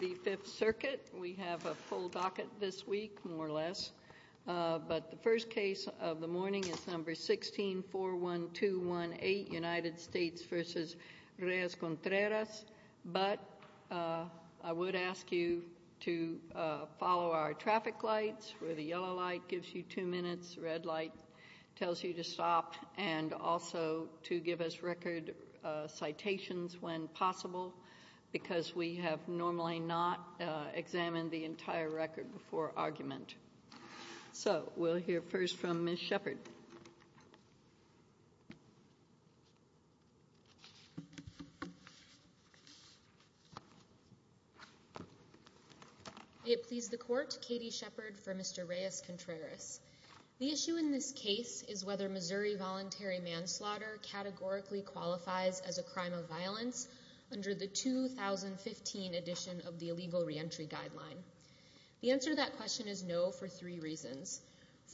The Fifth Circuit, we have a full docket this week, more or less, but the first case of the morning is number 16-41218, United States v. Reyes-Contreras, but I would ask you to follow our traffic lights, where the yellow light gives you two minutes, red light tells you to stop, and also to give us record citations when possible, because we have normally not examined the entire record before argument. So, we'll hear first from Ms. Shepard. May it please the Court, Katie Shepard for Mr. Reyes-Contreras. The issue in this case is whether Missouri voluntary manslaughter categorically qualifies as a crime of violence under the 2015 edition of the Illegal Reentry Guideline. The answer to that question is no for three reasons.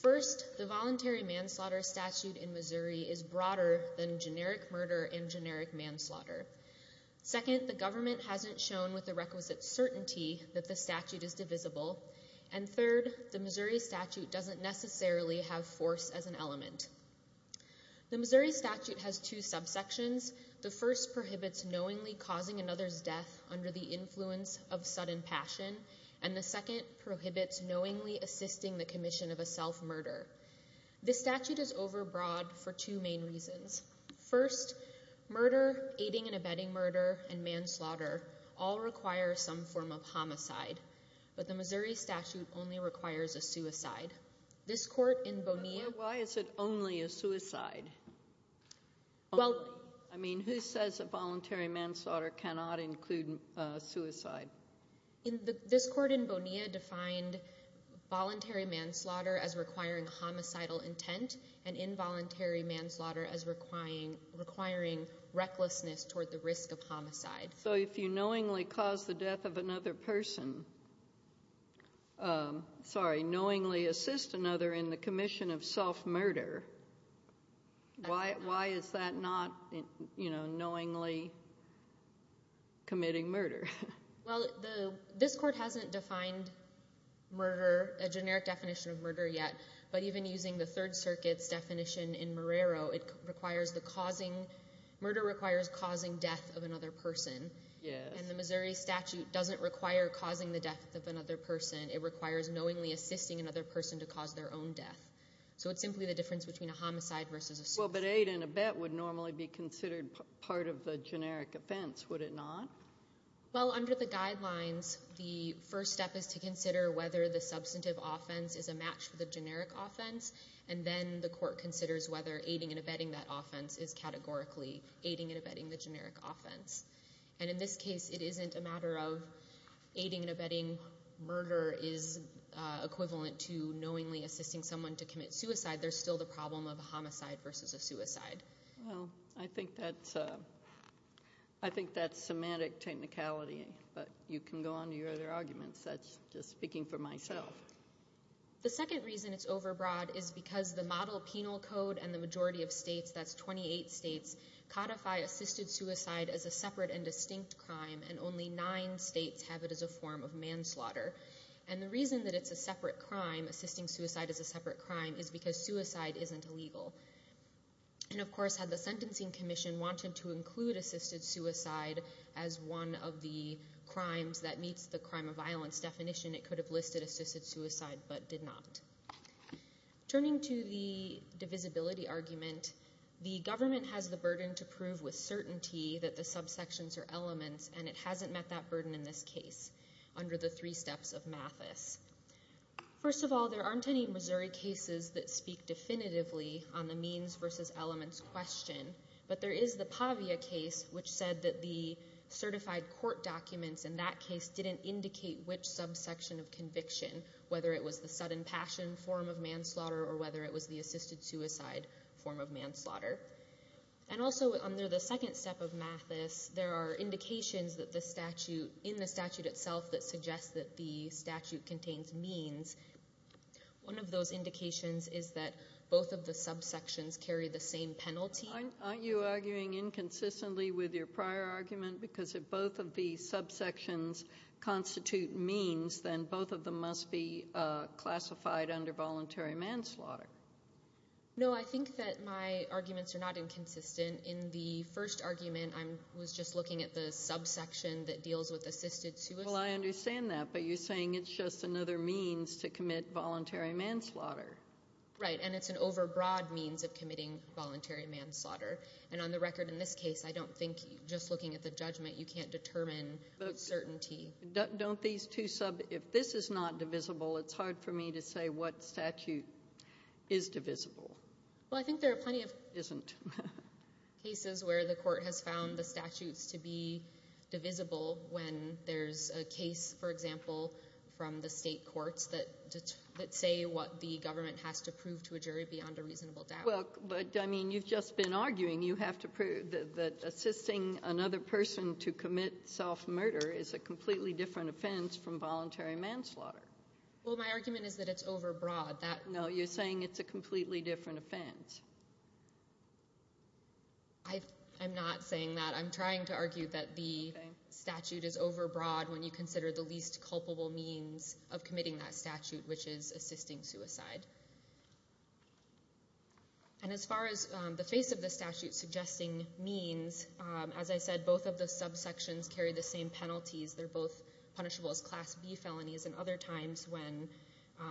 First, the voluntary manslaughter statute in Missouri is broader than generic murder and generic manslaughter. Second, the government hasn't shown with the requisite certainty that the statute is divisible. And third, the Missouri statute doesn't necessarily have force as an element. The Missouri statute has two subsections. The first prohibits knowingly causing another's death under the influence of sudden passion, and the second prohibits knowingly assisting the commission of a self-murder. This statute is overbroad for two main reasons. First, murder, aiding and abetting murder, and manslaughter all require some form of homicide, but the Missouri statute only requires a suicide. This court in Bonilla... Why is it only a suicide? Well... I mean, who says a voluntary manslaughter cannot include suicide? This court in Bonilla defined voluntary manslaughter as requiring homicidal intent and involuntary manslaughter as requiring recklessness toward the risk of homicide. So if you knowingly cause the death of another person... Sorry, knowingly assist another in the commission of self-murder, why is that not, you know, knowingly committing murder? Well, this court hasn't defined murder, a generic definition of murder yet, but even using the Third Circuit's definition in Marrero, murder requires causing death of another person. Yes. And the Missouri statute doesn't require causing the death of another person. It requires knowingly assisting another person to cause their own death. So it's simply the difference between a homicide versus a suicide. Well, but aid and abet would normally be considered part of the generic offense, would it not? Well, under the guidelines, the first step is to consider whether the substantive offense is a match for the generic offense, and then the court considers whether aiding and abetting that offense is categorically aiding and abetting the generic offense. And in this case, it isn't a matter of aiding and abetting murder is equivalent to knowingly assisting someone to commit suicide. There's still the problem of a homicide versus a suicide. Well, I think that's semantic technicality, but you can go on to your other arguments. That's just speaking for myself. The second reason it's overbroad is because the model penal code and the majority of states, that's 28 states, codify assisted suicide as a separate and distinct crime, and only nine states have it as a form of manslaughter. And the reason that it's a separate crime, assisting suicide as a separate crime, is because suicide isn't illegal. And, of course, had the Sentencing Commission wanted to include assisted suicide as one of the crimes that meets the crime of violence definition, it could have listed assisted suicide but did not. Turning to the divisibility argument, the government has the burden to prove with certainty that the subsections are elements, and it hasn't met that burden in this case under the three steps of Mathis. First of all, there aren't any Missouri cases that speak definitively on the means versus elements question, but there is the Pavia case, which said that the certified court documents in that case didn't indicate which subsection of conviction, whether it was the sudden passion form of manslaughter or whether it was the assisted suicide form of manslaughter. And also under the second step of Mathis, there are indications in the statute itself that suggest that the statute contains means. One of those indications is that both of the subsections carry the same penalty. Aren't you arguing inconsistently with your prior argument? Because if both of these subsections constitute means, then both of them must be classified under voluntary manslaughter. No, I think that my arguments are not inconsistent. In the first argument, I was just looking at the subsection that deals with assisted suicide. Well, I understand that, but you're saying it's just another means to commit voluntary manslaughter. Right, and it's an overbroad means of committing voluntary manslaughter. And on the record in this case, I don't think just looking at the judgment, you can't determine with certainty. If this is not divisible, it's hard for me to say what statute is divisible. Well, I think there are plenty of cases where the court has found the statutes to be divisible when there's a case, for example, from the state courts that say what the government has to prove to a jury beyond a reasonable doubt. Well, but, I mean, you've just been arguing. You have to prove that assisting another person to commit self-murder is a completely different offense from voluntary manslaughter. Well, my argument is that it's overbroad. No, you're saying it's a completely different offense. I'm not saying that. I'm trying to argue that the statute is overbroad when you consider the least culpable means of committing that statute, which is assisting suicide. And as far as the face of the statute suggesting means, as I said, both of the subsections carry the same penalties. They're both punishable as Class B felonies, and other times when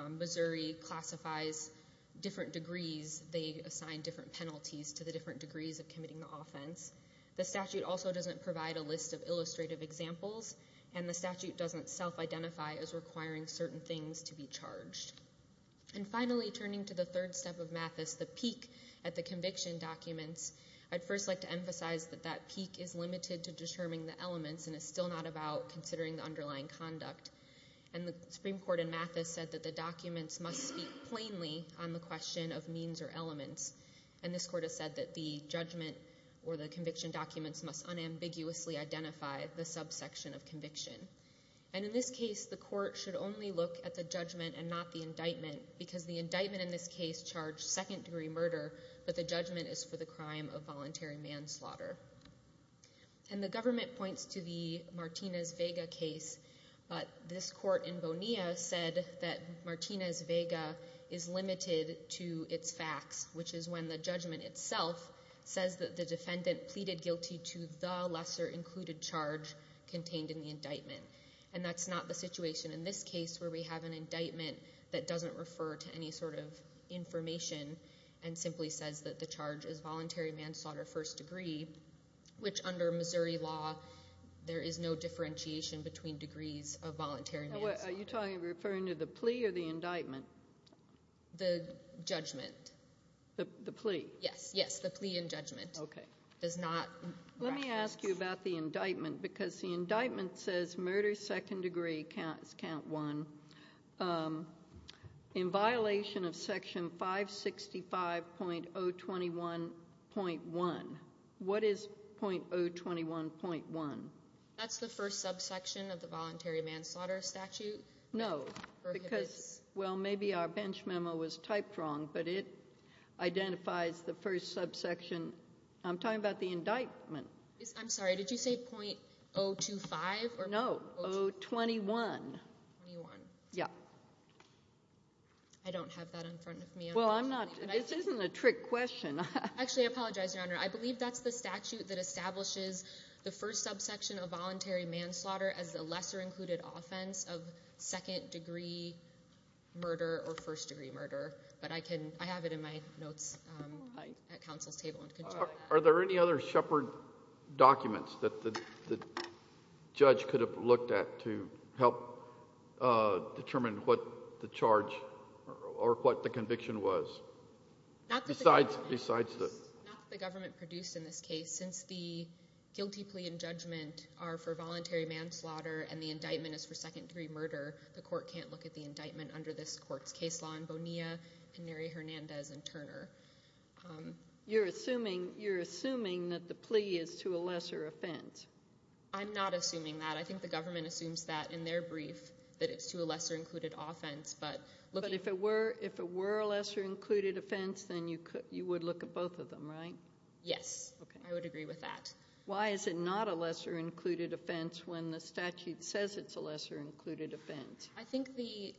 Missouri classifies different degrees, they assign different penalties to the different degrees of committing the offense. The statute also doesn't provide a list of illustrative examples, and the statute doesn't self-identify as requiring certain things to be charged. And finally, turning to the third step of Mathis, the peak at the conviction documents, I'd first like to emphasize that that peak is limited to determining the elements and is still not about considering the underlying conduct. And the Supreme Court in Mathis said that the documents must speak plainly on the question of means or elements, and this Court has said that the judgment or the conviction documents must unambiguously identify the subsection of conviction. And in this case, the Court should only look at the judgment and not the indictment, because the indictment in this case charged second-degree murder, but the judgment is for the crime of voluntary manslaughter. And the government points to the Martinez-Vega case, but this Court in Bonilla said that Martinez-Vega is limited to its facts, which is when the judgment itself says that the defendant pleaded guilty to the lesser included charge contained in the indictment. And that's not the situation in this case where we have an indictment that doesn't refer to any sort of information and simply says that the charge is voluntary manslaughter first degree, which under Missouri law, there is no differentiation between degrees of voluntary manslaughter. Are you referring to the plea or the indictment? The judgment. The plea? Yes, yes, the plea and judgment. Okay. Does not reference. Let me ask you about the indictment, because the indictment says murder second degree counts count one. In violation of section 565.021.1, what is .021.1? That's the first subsection of the voluntary manslaughter statute. No, because, well, maybe our bench memo was typed wrong, but it identifies the first subsection. I'm talking about the indictment. I'm sorry. Did you say .025? No, 021. 021. Yeah. I don't have that in front of me. Well, I'm not. This isn't a trick question. Actually, I apologize, Your Honor. I believe that's the statute that establishes the first subsection of voluntary manslaughter as a lesser included offense of second degree murder or first degree murder. But I have it in my notes at counsel's table. Are there any other Shepard documents that the judge could have looked at to help determine what the charge or what the conviction was? Not that the government produced in this case. Since the guilty plea and judgment are for voluntary manslaughter and the indictment is for second degree murder, the court can't look at the indictment under this court's case law in Bonilla and Neri Hernandez and Turner. You're assuming that the plea is to a lesser offense. I'm not assuming that. I think the government assumes that in their brief, that it's to a lesser included offense. But if it were a lesser included offense, then you would look at both of them, right? Yes, I would agree with that. Why is it not a lesser included offense when the statute says it's a lesser included offense? I think the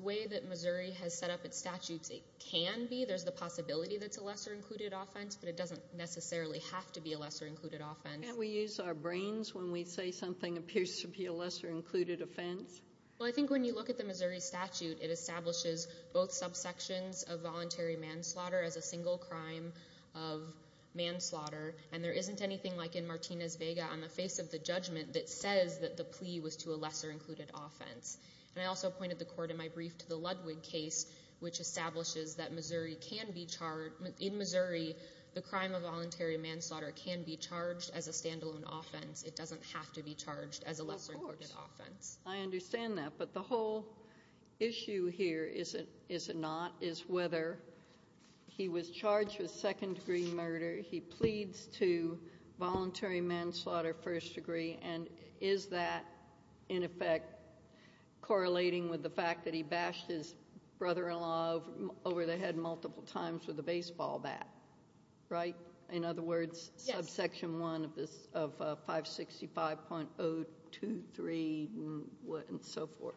way that Missouri has set up its statutes, it can be. There's the possibility that it's a lesser included offense, but it doesn't necessarily have to be a lesser included offense. Can't we use our brains when we say something appears to be a lesser included offense? Well, I think when you look at the Missouri statute, it establishes both subsections of voluntary manslaughter as a single crime of manslaughter, and there isn't anything like in Martinez-Vega on the face of the judgment that says that the plea was to a lesser included offense. And I also pointed the court in my brief to the Ludwig case, which establishes that in Missouri, the crime of voluntary manslaughter can be charged as a standalone offense. It doesn't have to be charged as a lesser included offense. I understand that, but the whole issue here is it not, is whether he was charged with second-degree murder, he pleads to voluntary manslaughter, first degree, and is that, in effect, correlating with the fact that he bashed his brother-in-law over the head multiple times with a baseball bat, right? In other words, subsection 1 of 565.023 and so forth.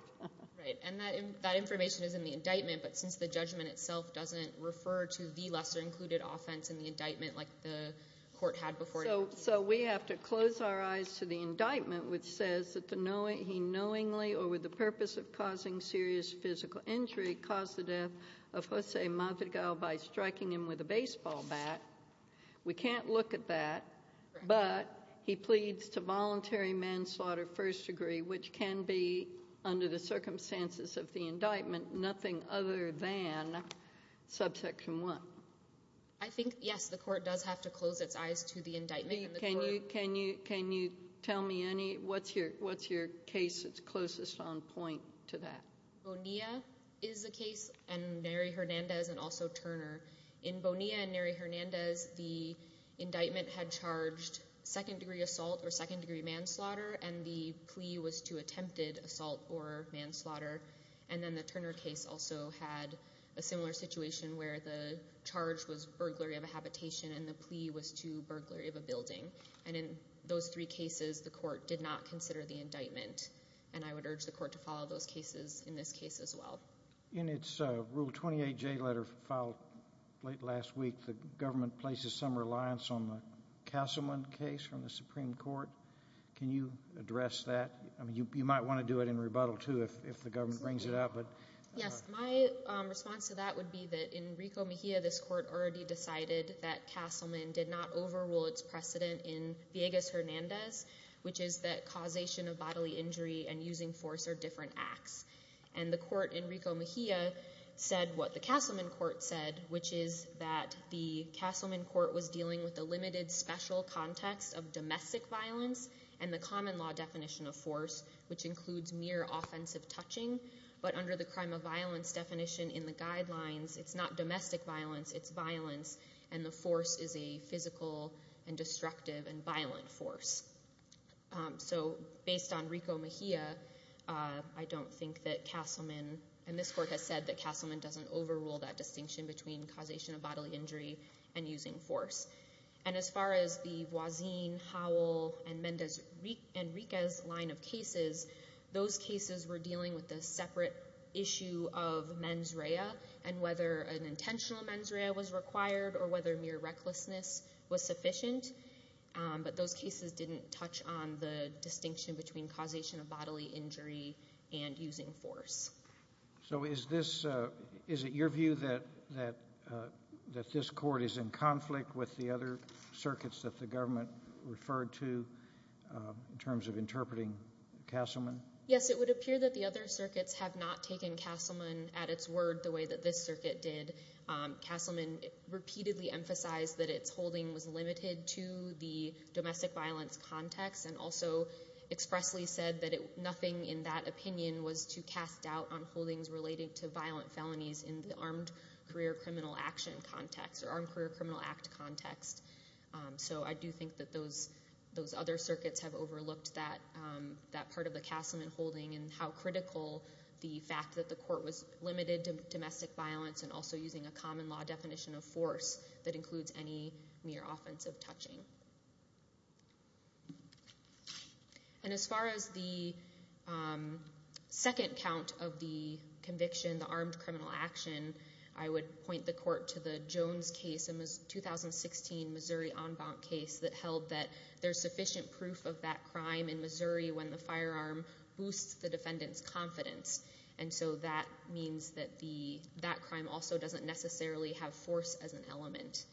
Right. And that information is in the indictment, but since the judgment itself doesn't refer to the lesser included offense in the indictment like the court had before. So we have to close our eyes to the indictment, which says that he knowingly or with the purpose of causing serious physical injury caused the death of Jose Mavigal by striking him with a baseball bat. We can't look at that, but he pleads to voluntary manslaughter, first degree, which can be, under the circumstances of the indictment, nothing other than subsection 1. I think, yes, the court does have to close its eyes to the indictment. Can you tell me what's your case that's closest on point to that? Bonilla is the case and Neri Hernandez and also Turner. In Bonilla and Neri Hernandez, the indictment had charged second degree assault or second degree manslaughter, and the plea was to attempted assault or manslaughter. And then the Turner case also had a similar situation where the charge was burglary of a habitation and the plea was to burglary of a building. And in those three cases, the court did not consider the indictment, and I would urge the court to follow those cases in this case as well. In its Rule 28J letter filed late last week, the government places some reliance on the Castleman case from the Supreme Court. Can you address that? I mean, you might want to do it in rebuttal, too, if the government brings it up. Yes, my response to that would be that in Rico Mejia, this court already decided that Castleman did not overrule its precedent in Villegas Hernandez, which is that causation of bodily injury and using force are different acts. And the court in Rico Mejia said what the Castleman court said, which is that the Castleman court was dealing with the limited special context of domestic violence and the common law definition of force, which includes mere offensive touching, but under the crime of violence definition in the guidelines, it's not domestic violence, it's violence, and the force is a physical and destructive and violent force. So based on Rico Mejia, I don't think that Castleman, and this court has said that Castleman doesn't overrule that distinction between causation of bodily injury and using force. And as far as the Voisin, Howell, and Mendez and Rica's line of cases, those cases were dealing with the separate issue of mens rea and whether an intentional mens rea was required or whether mere recklessness was sufficient. But those cases didn't touch on the distinction between causation of bodily injury and using force. So is this, is it your view that this court is in conflict with the other circuits that the government referred to in terms of interpreting Castleman? Yes, it would appear that the other circuits have not taken Castleman at its word the way that this circuit did. Castleman repeatedly emphasized that its holding was limited to the domestic violence context and also expressly said that nothing in that opinion was to cast doubt on holdings relating to violent felonies in the Armed Career Criminal Act context. So I do think that those other circuits have overlooked that part of the Castleman holding and how critical the fact that the court was limited to domestic violence and also using a common law definition of force that includes any mere offensive touching. And as far as the second count of the conviction, the armed criminal action, I would point the court to the Jones case, a 2016 Missouri en banc case that held that there's sufficient proof of that crime in Missouri when the firearm boosts the defendant's confidence. And so that means that that crime also doesn't necessarily have force as an element.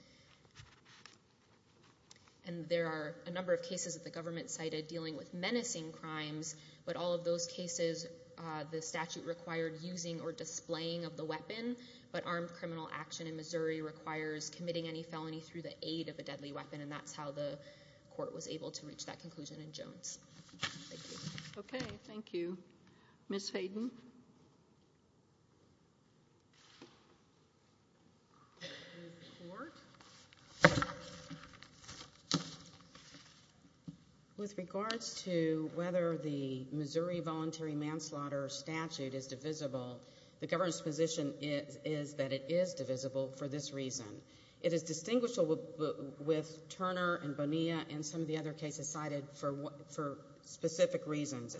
And there are a number of cases that the government cited dealing with menacing crimes, but all of those cases the statute required using or displaying of the weapon. But armed criminal action in Missouri requires committing any felony through the aid of a deadly weapon, and that's how the court was able to reach that conclusion in Jones. Thank you. Okay. Thank you. Ms. Hayden. With regards to whether the Missouri voluntary manslaughter statute is divisible, the government's position is that it is divisible for this reason. It is distinguishable with Turner and Bonilla and some of the other cases cited for specific reasons.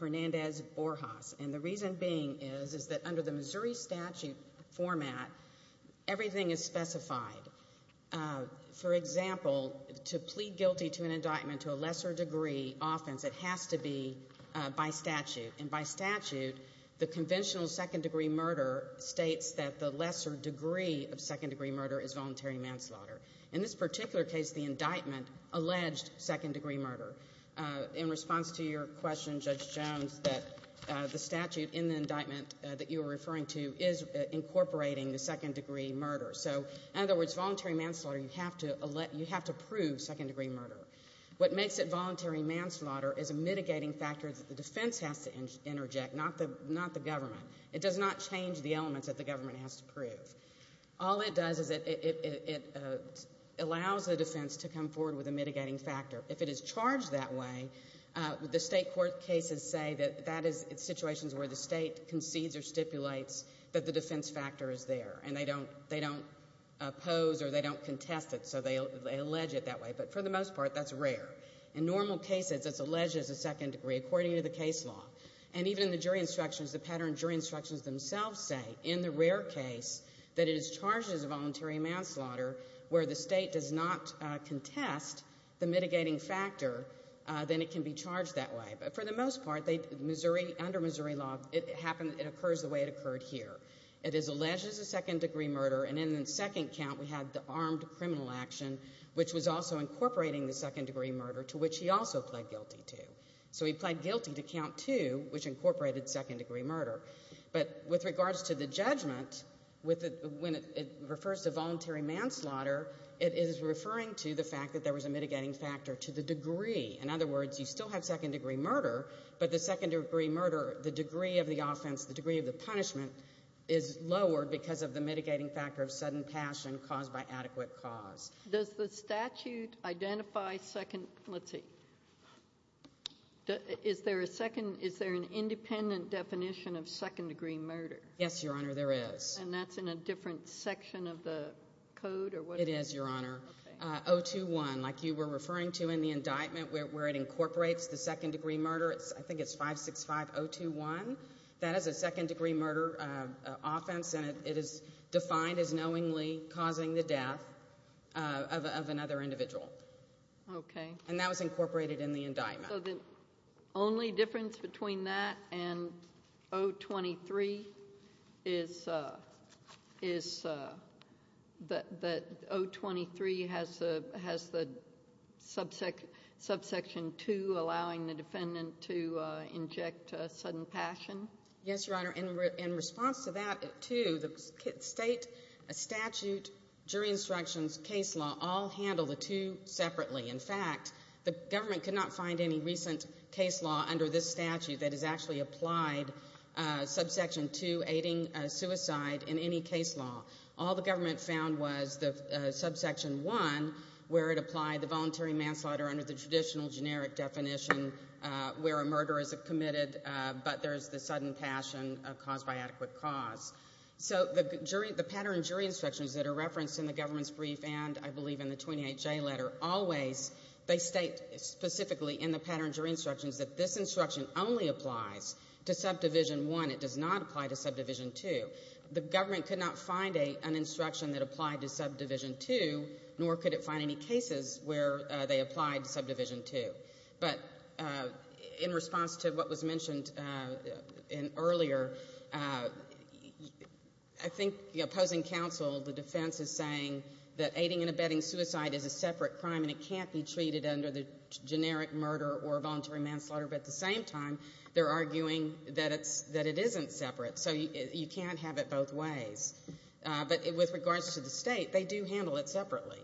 Hernandez-Borjas. And the reason being is that under the Missouri statute format, everything is specified. For example, to plead guilty to an indictment to a lesser degree offense, it has to be by statute. And by statute, the conventional second degree murder states that the lesser degree of second degree murder is voluntary manslaughter. In this particular case, the indictment alleged second degree murder. In response to your question, Judge Jones, that the statute in the indictment that you were referring to is incorporating the second degree murder. So, in other words, voluntary manslaughter, you have to prove second degree murder. What makes it voluntary manslaughter is a mitigating factor that the defense has to interject, not the government. It does not change the elements that the government has to prove. All it does is it allows the defense to come forward with a mitigating factor. If it is charged that way, the State court cases say that that is situations where the State concedes or stipulates that the defense factor is there. And they don't oppose or they don't contest it, so they allege it that way. But for the most part, that's rare. In normal cases, it's alleged as a second degree according to the case law. And even in the jury instructions, the pattern jury instructions themselves say, in the rare case, that it is charged as a voluntary manslaughter where the State does not contest the mitigating factor, then it can be charged that way. But for the most part, under Missouri law, it occurs the way it occurred here. It is alleged as a second degree murder. And in the second count, we had the armed criminal action, which was also incorporating the second degree murder, to which he also pled guilty to. So he pled guilty to count two, which incorporated second degree murder. But with regards to the judgment, when it refers to voluntary manslaughter, it is referring to the fact that there was a mitigating factor to the degree. In other words, you still have second degree murder, but the second degree murder, the degree of the offense, the degree of the punishment, is lowered because of the mitigating factor of sudden passion caused by adequate cause. Does the statute identify second? Let's see. Is there a second? Is there an independent definition of second degree murder? Yes, Your Honor, there is. And that's in a different section of the code? It is, Your Honor. Okay. 021, like you were referring to in the indictment where it incorporates the second degree murder, I think it's 565-021. That is a second degree murder offense, and it is defined as knowingly causing the death of another individual. Okay. And that was incorporated in the indictment. So the only difference between that and 023 is that 023 has the subsection 2 allowing the defendant to inject sudden passion? Yes, Your Honor. In response to that 2, the state statute, jury instructions, case law all handle the 2 separately. In fact, the government could not find any recent case law under this statute that has actually applied subsection 2 aiding suicide in any case law. All the government found was the subsection 1 where it applied the voluntary manslaughter under the traditional generic definition where a murder is committed but there's the sudden passion caused by adequate cause. So the pattern jury instructions that are referenced in the government's brief and I believe in the 28J letter always, they state specifically in the pattern jury instructions that this instruction only applies to subdivision 1. It does not apply to subdivision 2. The government could not find an instruction that applied to subdivision 2, nor could it find any cases where they applied subdivision 2. But in response to what was mentioned earlier, I think the opposing counsel, the defense is saying that aiding and abetting suicide is a separate crime and it can't be treated under the generic murder or voluntary manslaughter. But at the same time, they're arguing that it isn't separate. So you can't have it both ways. But with regards to the state, they do handle it separately.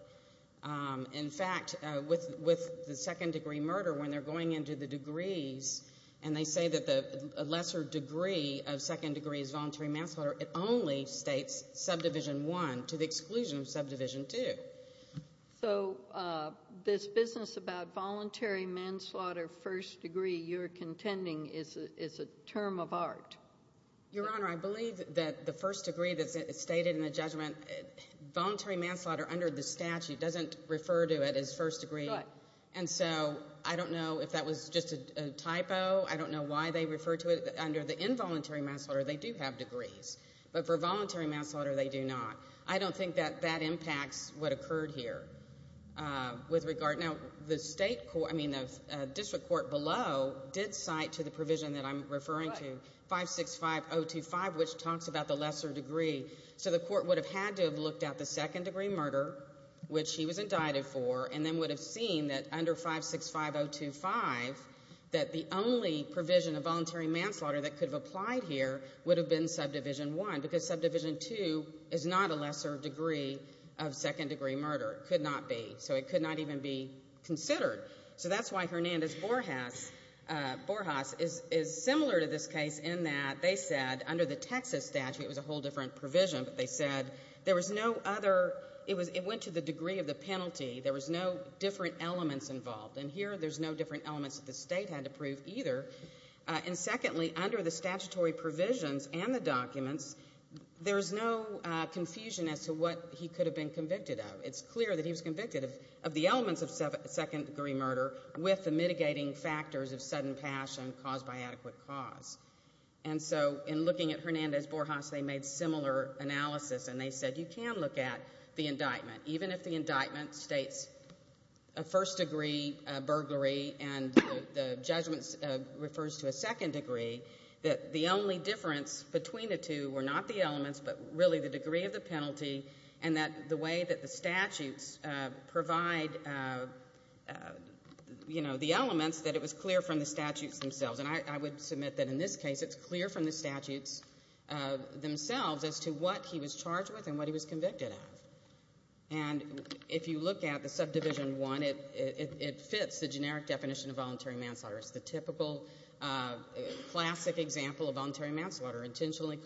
In fact, with the second degree murder, when they're going into the degrees and they say that the lesser degree of second degree is voluntary manslaughter, it only states subdivision 1 to the exclusion of subdivision 2. So this business about voluntary manslaughter first degree you're contending is a term of art. Your Honor, I believe that the first degree that's stated in the judgment, voluntary manslaughter under the statute doesn't refer to it as first degree. And so I don't know if that was just a typo. I don't know why they refer to it under the involuntary manslaughter. They do have degrees. But for voluntary manslaughter, they do not. I don't think that that impacts what occurred here. Now, the district court below did cite to the provision that I'm referring to, 565.025, which talks about the lesser degree. So the court would have had to have looked at the second degree murder, which he was indicted for, and then would have seen that under 565.025 that the only provision of voluntary manslaughter that could have applied here would have been subdivision 1 because subdivision 2 is not a lesser degree of second degree murder. It could not be. So it could not even be considered. So that's why Hernandez-Borjas is similar to this case in that they said under the Texas statute, it was a whole different provision, but they said there was no other – it went to the degree of the penalty. There was no different elements involved. And here there's no different elements that the state had to prove either. And secondly, under the statutory provisions and the documents, there's no confusion as to what he could have been convicted of. It's clear that he was convicted of the elements of second degree murder with the mitigating factors of sudden passion caused by adequate cause. And so in looking at Hernandez-Borjas, they made similar analysis, and they said you can look at the indictment, even if the indictment states a first degree burglary and the judgment refers to a second degree, that the only difference between the two were not the elements but really the degree of the penalty and that the way that the statutes provide, you know, the elements, that it was clear from the statutes themselves. And I would submit that in this case it's clear from the statutes themselves as to what he was charged with and what he was convicted of. And if you look at the subdivision one, it fits the generic definition of voluntary manslaughter. It's the typical classic example of voluntary manslaughter, intentionally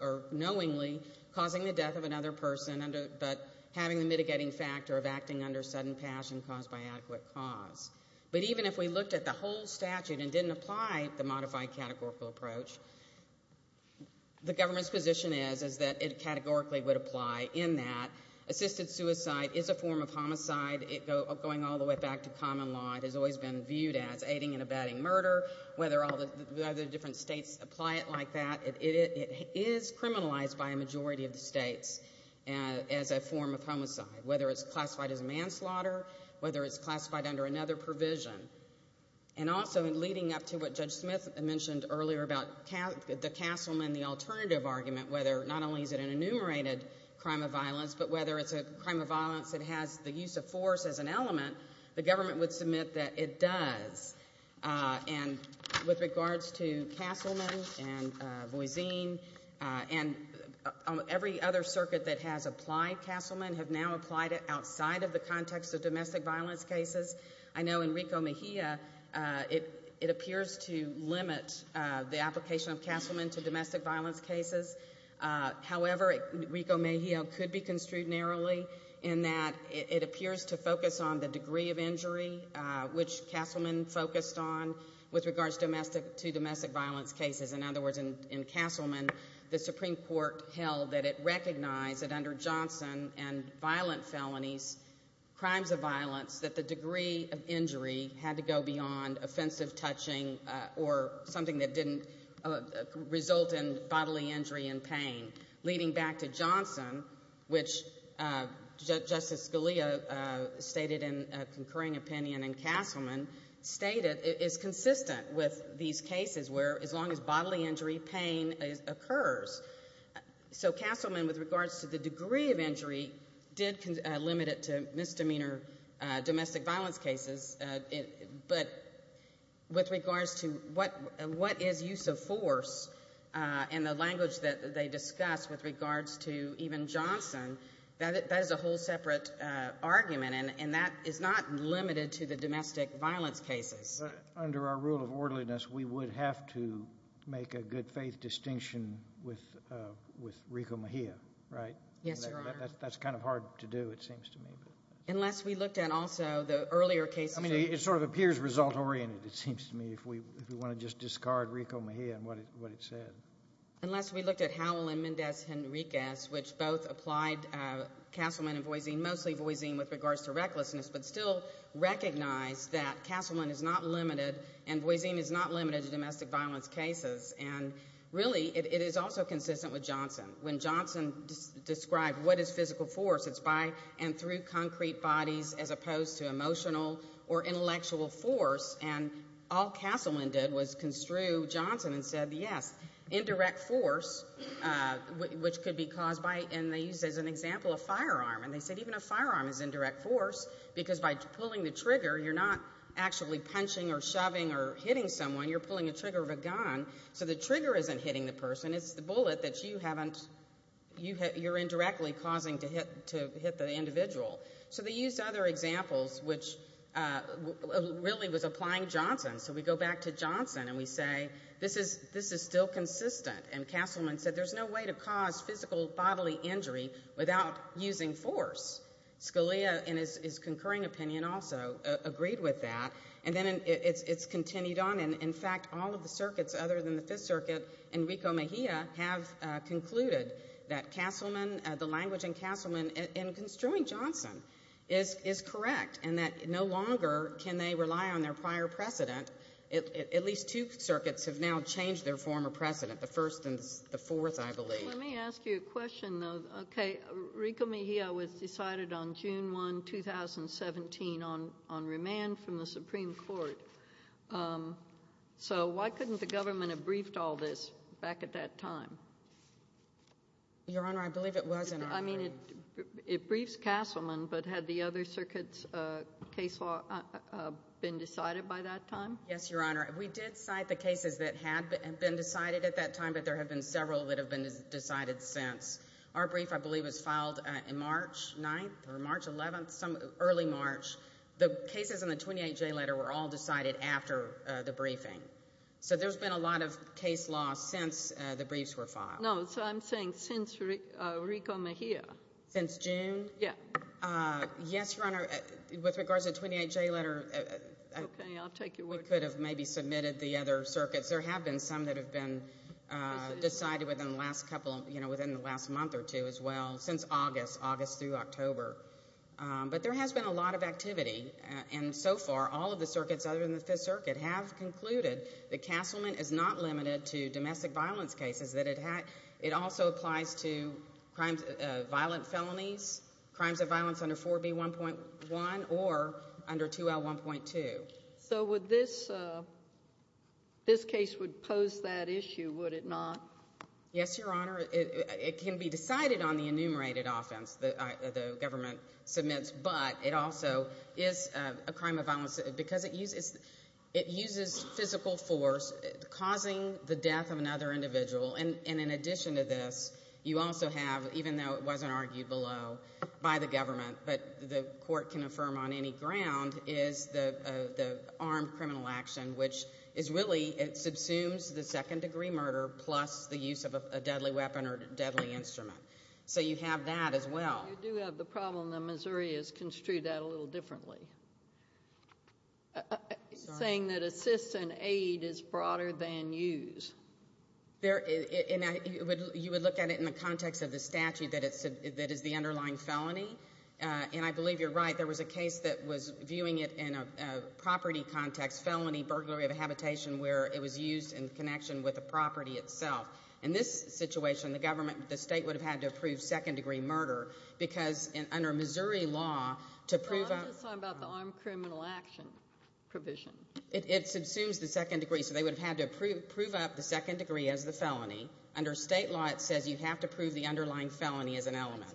or knowingly causing the death of another person but having the mitigating factor of acting under sudden passion caused by adequate cause. But even if we looked at the whole statute and didn't apply the modified categorical approach, the government's position is that it categorically would apply in that assisted suicide is a form of homicide. Going all the way back to common law, it has always been viewed as aiding and abetting murder. Whether all the other different states apply it like that, it is criminalized by a majority of the states as a form of homicide, whether it's classified as manslaughter, whether it's classified under another provision. And also in leading up to what Judge Smith mentioned earlier about the Castleman, the alternative argument, whether not only is it an enumerated crime of violence but whether it's a crime of violence that has the use of force as an element, the government would submit that it does. And with regards to Castleman and Voisin and every other circuit that has applied Castleman have now applied it outside of the context of domestic violence cases. I know in Rico Mejia it appears to limit the application of Castleman to domestic violence cases. However, Rico Mejia could be construed narrowly in that it appears to focus on the degree of injury, which Castleman focused on with regards to domestic violence cases. In other words, in Castleman, the Supreme Court held that it recognized that under Johnson and violent felonies, crimes of violence, that the degree of injury had to go beyond offensive touching or something that didn't result in bodily injury and pain. Leading back to Johnson, which Justice Scalia stated in a concurring opinion in Castleman, stated it is consistent with these cases where as long as bodily injury, pain occurs. So Castleman, with regards to the degree of injury, did limit it to misdemeanor domestic violence cases. But with regards to what is use of force in the language that they discuss with regards to even Johnson, that is a whole separate argument, and that is not limited to the domestic violence cases. But under our rule of orderliness, we would have to make a good faith distinction with Rico Mejia, right? Yes, Your Honor. That's kind of hard to do, it seems to me. Unless we looked at also the earlier cases. I mean, it sort of appears result-oriented, it seems to me, if we want to just discard Rico Mejia and what it said. Unless we looked at Howell and Mendez Henriquez, which both applied Castleman and Voisine, mostly Voisine with regards to recklessness, but still recognize that Castleman is not limited and Voisine is not limited to domestic violence cases. And really, it is also consistent with Johnson. When Johnson described what is physical force, it's by and through concrete bodies as opposed to emotional or intellectual force. And all Castleman did was construe Johnson and said, yes, indirect force, which could be caused by, and they used as an example a firearm. And they said even a firearm is indirect force because by pulling the trigger, you're not actually punching or shoving or hitting someone, you're pulling the trigger of a gun. So the trigger isn't hitting the person, it's the bullet that you haven't, you're indirectly causing to hit the individual. So they used other examples, which really was applying Johnson. So we go back to Johnson and we say, this is still consistent. And Castleman said there's no way to cause physical bodily injury without using force. Scalia, in his concurring opinion also, agreed with that. And then it's continued on. In fact, all of the circuits other than the Fifth Circuit and Rico Mejia have concluded that Castleman, the language in Castleman in construing Johnson is correct and that no longer can they rely on their prior precedent. At least two circuits have now changed their former precedent, the first and the fourth, I believe. Let me ask you a question, though. Okay. Rico Mejia was decided on June 1, 2017, on remand from the Supreme Court. So why couldn't the government have briefed all this back at that time? Your Honor, I believe it was in our hearing. I mean, it briefs Castleman, but had the other circuits' case law been decided by that time? Yes, Your Honor. We did cite the cases that had been decided at that time, but there have been several that have been decided since. Our brief, I believe, was filed in March 9th or March 11th, early March. The cases in the 28J letter were all decided after the briefing. So there's been a lot of case law since the briefs were filed. No, so I'm saying since Rico Mejia. Since June? Yes. Yes, Your Honor. With regards to the 28J letter, we could have maybe submitted the other circuits. There have been some that have been decided within the last month or two as well, since August, August through October. But there has been a lot of activity. And so far, all of the circuits other than the Fifth Circuit have concluded that Castleman is not limited to domestic violence cases, that it also applies to violent felonies, crimes of violence under 4B1.1 or under 2L1.2. So this case would pose that issue, would it not? Yes, Your Honor. It can be decided on the enumerated offense the government submits, but it also is a crime of violence because it uses physical force, causing the death of another individual. And in addition to this, you also have, even though it wasn't argued below by the government, but the court can affirm on any ground, is the armed criminal action, which is really, it subsumes the second-degree murder plus the use of a deadly weapon or deadly instrument. So you have that as well. You do have the problem that Missouri has construed that a little differently, saying that assist and aid is broader than use. You would look at it in the context of the statute that is the underlying felony. And I believe you're right. There was a case that was viewing it in a property context, felony burglary of a habitation, where it was used in connection with the property itself. In this situation, the government, the state would have had to approve second-degree murder because under Missouri law, to prove a— I'm just talking about the armed criminal action provision. It subsumes the second degree, so they would have had to prove up the second degree as the felony. Under state law, it says you have to prove the underlying felony as an element.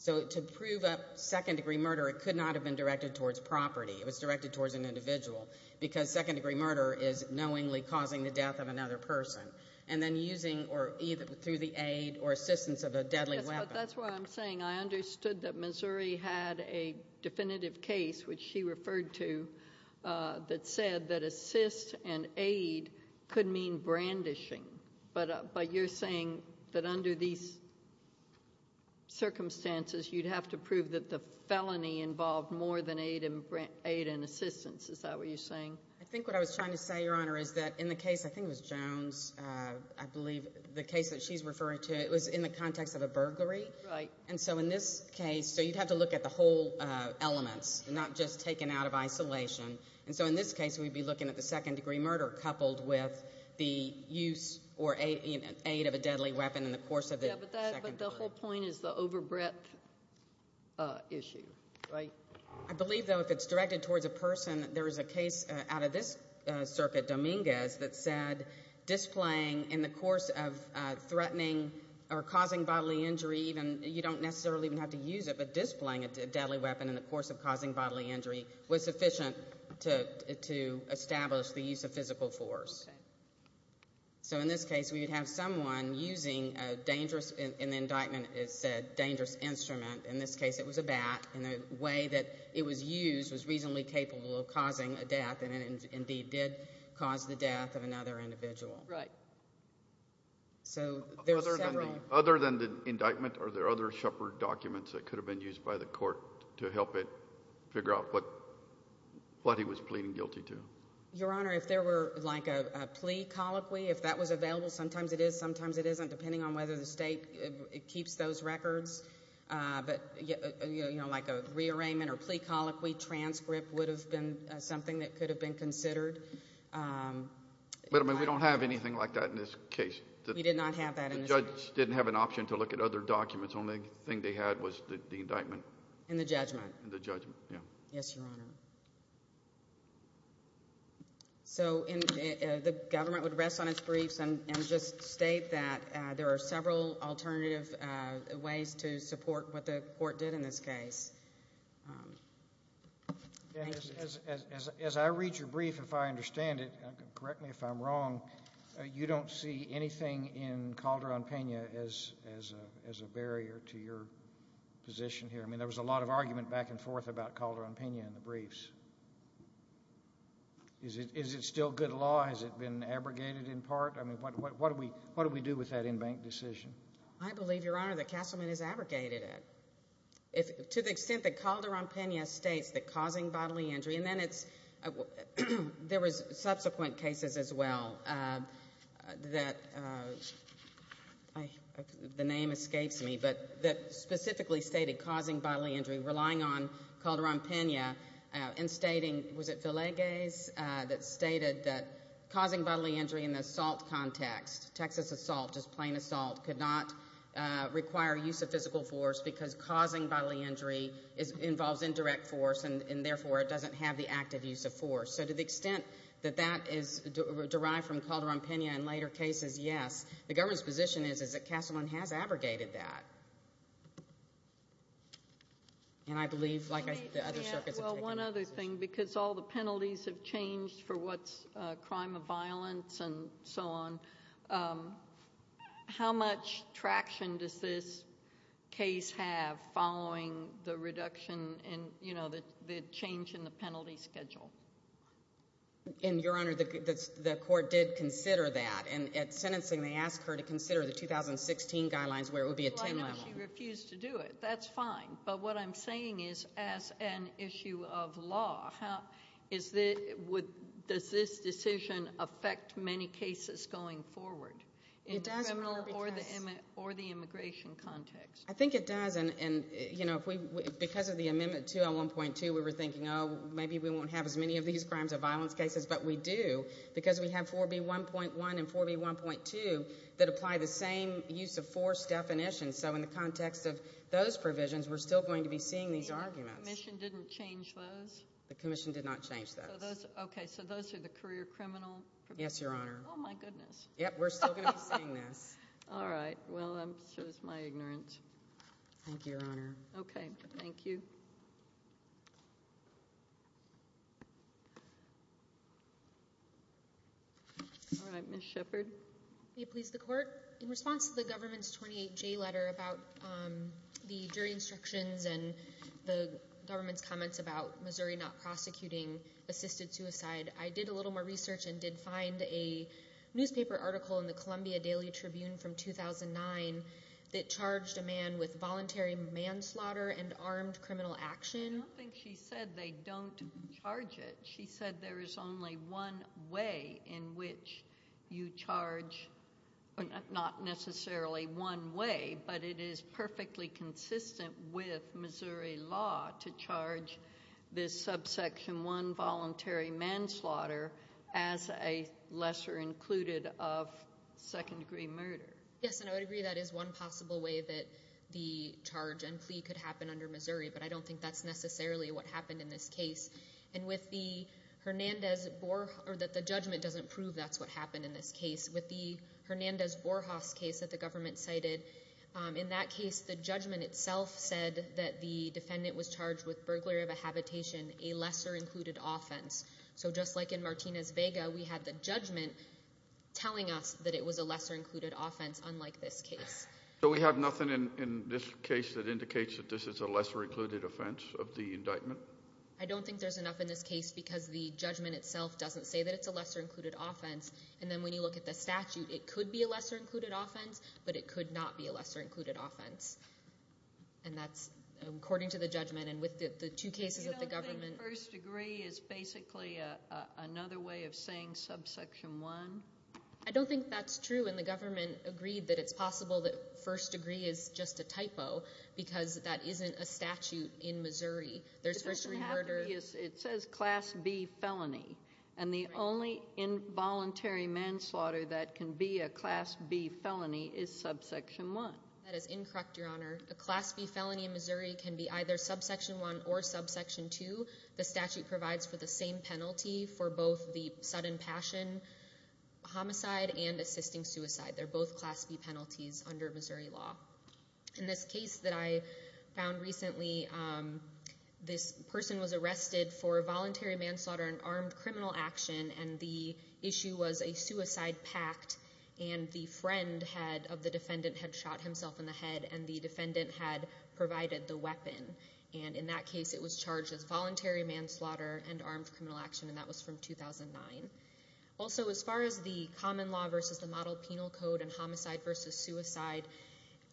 So to prove up second-degree murder, it could not have been directed towards property. It was directed towards an individual because second-degree murder is knowingly causing the death of another person, and then using or either through the aid or assistance of a deadly weapon. That's what I'm saying. I understood that Missouri had a definitive case, which she referred to, that said that assist and aid could mean brandishing. But you're saying that under these circumstances, you'd have to prove that the felony involved more than aid and assistance. Is that what you're saying? I think what I was trying to say, Your Honor, is that in the case, I think it was Jones, I believe, the case that she's referring to, it was in the context of a burglary. Right. And so in this case, so you'd have to look at the whole elements, not just taken out of isolation. And so in this case, we'd be looking at the second-degree murder coupled with the use or aid of a deadly weapon in the course of the second degree. Yeah, but the whole point is the overbreadth issue, right? I believe, though, if it's directed towards a person, there is a case out of this circuit, Dominguez, that said displaying in the course of threatening or causing bodily injury, you don't necessarily even have to use it, but displaying a deadly weapon in the course of causing bodily injury was sufficient to establish the use of physical force. So in this case, we would have someone using a dangerous, in the indictment it said dangerous instrument. In this case, it was a bat, and the way that it was used was reasonably capable of causing a death, and it indeed did cause the death of another individual. Right. So there's several. Other than the indictment, are there other Shepard documents that could have been used by the court to help it figure out what he was pleading guilty to? Your Honor, if there were like a plea colloquy, if that was available, sometimes it is, sometimes it isn't, depending on whether the state keeps those records. But, you know, like a rearrangement or plea colloquy transcript would have been something that could have been considered. But, I mean, we don't have anything like that in this case. We did not have that in this case. The judge didn't have an option to look at other documents. The only thing they had was the indictment. And the judgment. And the judgment, yeah. Yes, Your Honor. So the government would rest on its briefs and just state that there are several alternative ways to support what the court did in this case. As I read your brief, if I understand it, correct me if I'm wrong, you don't see anything in Calderon-Pena as a barrier to your position here. I mean, there was a lot of argument back and forth about Calderon-Pena in the briefs. Is it still good law? Has it been abrogated in part? I mean, what do we do with that in-bank decision? I believe, Your Honor, that Castleman has abrogated it. To the extent that Calderon-Pena states that causing bodily injury, and then it's – There was subsequent cases as well that – the name escapes me – but that specifically stated causing bodily injury, relying on Calderon-Pena, and stating, was it Villegas that stated that causing bodily injury in the assault context, Texas assault, just plain assault, could not require use of physical force because causing bodily injury involves indirect force, and therefore it doesn't have the active use of force. So to the extent that that is derived from Calderon-Pena in later cases, yes. The government's position is that Castleman has abrogated that. And I believe, like, the other circuits have taken that. Well, one other thing, because all the penalties have changed for what's crime of violence and so on, how much traction does this case have following the reduction in – you know, the change in the penalty schedule? And, Your Honor, the court did consider that. And at sentencing, they asked her to consider the 2016 guidelines where it would be attainable. Well, I know she refused to do it. That's fine. But what I'm saying is, as an issue of law, does this decision affect many cases going forward in the criminal or the immigration context? I think it does. And, you know, because of the Amendment 201.2, we were thinking, oh, maybe we won't have as many of these crimes of violence cases. But we do because we have 4B1.1 and 4B1.2 that apply the same use of force definition. So in the context of those provisions, we're still going to be seeing these arguments. The commission didn't change those? The commission did not change those. Okay. So those are the career criminal provisions? Yes, Your Honor. Oh, my goodness. Yep. We're still going to be seeing this. All right. Well, so is my ignorance. Thank you, Your Honor. Okay. Thank you. All right. Ms. Shepard. May it please the Court? Your Honor, in response to the government's 28J letter about the jury instructions and the government's comments about Missouri not prosecuting assisted suicide, I did a little more research and did find a newspaper article in the Columbia Daily Tribune from 2009 that charged a man with voluntary manslaughter and armed criminal action. I don't think she said they don't charge it. She said there is only one way in which you charge, not necessarily one way, but it is perfectly consistent with Missouri law to charge this Subsection I voluntary manslaughter as a lesser included of second-degree murder. Yes, and I would agree that is one possible way that the charge and plea could happen under Missouri, but I don't think that's necessarily what happened in this case. And with the Hernandez-Borhoff, or that the judgment doesn't prove that's what happened in this case, with the Hernandez-Borhoff case that the government cited, in that case, the judgment itself said that the defendant was charged with burglary of a habitation, a lesser included offense. So just like in Martinez-Vega, we had the judgment telling us that it was a lesser included offense, unlike this case. So we have nothing in this case that indicates that this is a lesser included offense of the indictment? I don't think there's enough in this case because the judgment itself doesn't say that it's a lesser included offense. And then when you look at the statute, it could be a lesser included offense, but it could not be a lesser included offense. And that's according to the judgment. And with the two cases that the government – You don't think first degree is basically another way of saying Subsection I? I don't think that's true. And the government agreed that it's possible that first degree is just a typo because that isn't a statute in Missouri. There's first degree murder. It says Class B felony, and the only involuntary manslaughter that can be a Class B felony is Subsection I. That is incorrect, Your Honor. A Class B felony in Missouri can be either Subsection I or Subsection II. The statute provides for the same penalty for both the sudden passion homicide and assisting suicide. They're both Class B penalties under Missouri law. In this case that I found recently, this person was arrested for voluntary manslaughter and armed criminal action, and the issue was a suicide pact, and the friend of the defendant had shot himself in the head, and the defendant had provided the weapon. And in that case, it was charged as voluntary manslaughter and armed criminal action, and that was from 2009. Also, as far as the common law versus the model penal code and homicide versus suicide,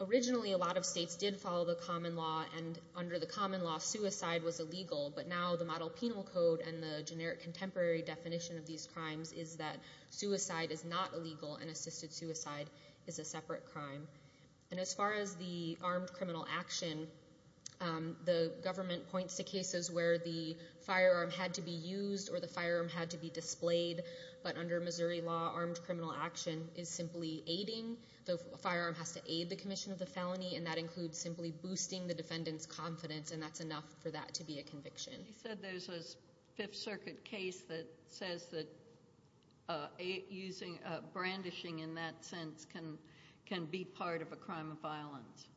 originally a lot of states did follow the common law, and under the common law, suicide was illegal, but now the model penal code and the generic contemporary definition of these crimes is that suicide is not illegal and assisted suicide is a separate crime. And as far as the armed criminal action, the government points to cases where the firearm had to be used or the firearm had to be displayed, but under Missouri law, armed criminal action is simply aiding. The firearm has to aid the commission of the felony, and that includes simply boosting the defendant's confidence, and that's enough for that to be a conviction. You said there's a Fifth Circuit case that says that brandishing, in that sense, can be part of a crime of violence.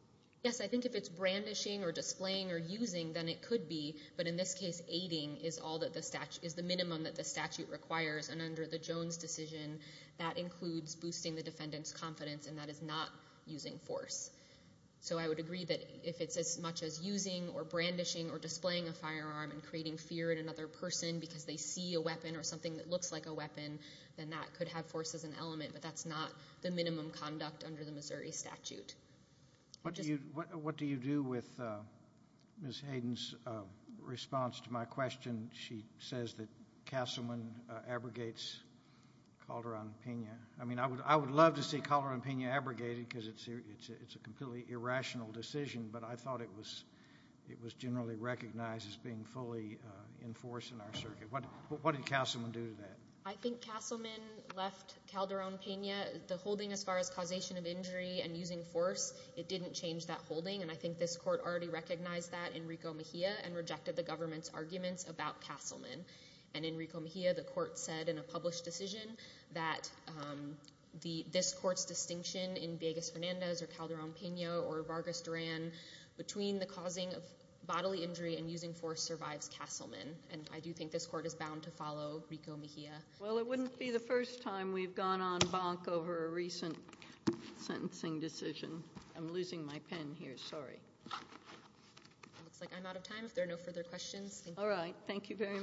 Yes, I think if it's brandishing or displaying or using, then it could be, but in this case, aiding is the minimum that the statute requires, and under the Jones decision, that includes boosting the defendant's confidence, and that is not using force. So I would agree that if it's as much as using or brandishing or displaying a firearm and creating fear in another person because they see a weapon or something that looks like a weapon, then that could have force as an element, but that's not the minimum conduct under the Missouri statute. What do you do with Ms. Hayden's response to my question? She says that Castleman abrogates Calderon-Pena. I mean, I would love to see Calderon-Pena abrogated because it's a completely irrational decision, but I thought it was generally recognized as being fully enforced in our circuit. What did Castleman do to that? I think Castleman left Calderon-Pena. The holding as far as causation of injury and using force, it didn't change that holding, and I think this court already recognized that in Rico Mejia and rejected the government's arguments about Castleman. And in Rico Mejia, the court said in a published decision that this court's distinction in Villegas-Fernandez or Calderon-Pena or Vargas-Duran between the causing of bodily injury and using force survives Castleman, and I do think this court is bound to follow Rico Mejia. Well, it wouldn't be the first time we've gone on bonk over a recent sentencing decision. I'm losing my pen here. Sorry. It looks like I'm out of time if there are no further questions. All right. Thank you very much.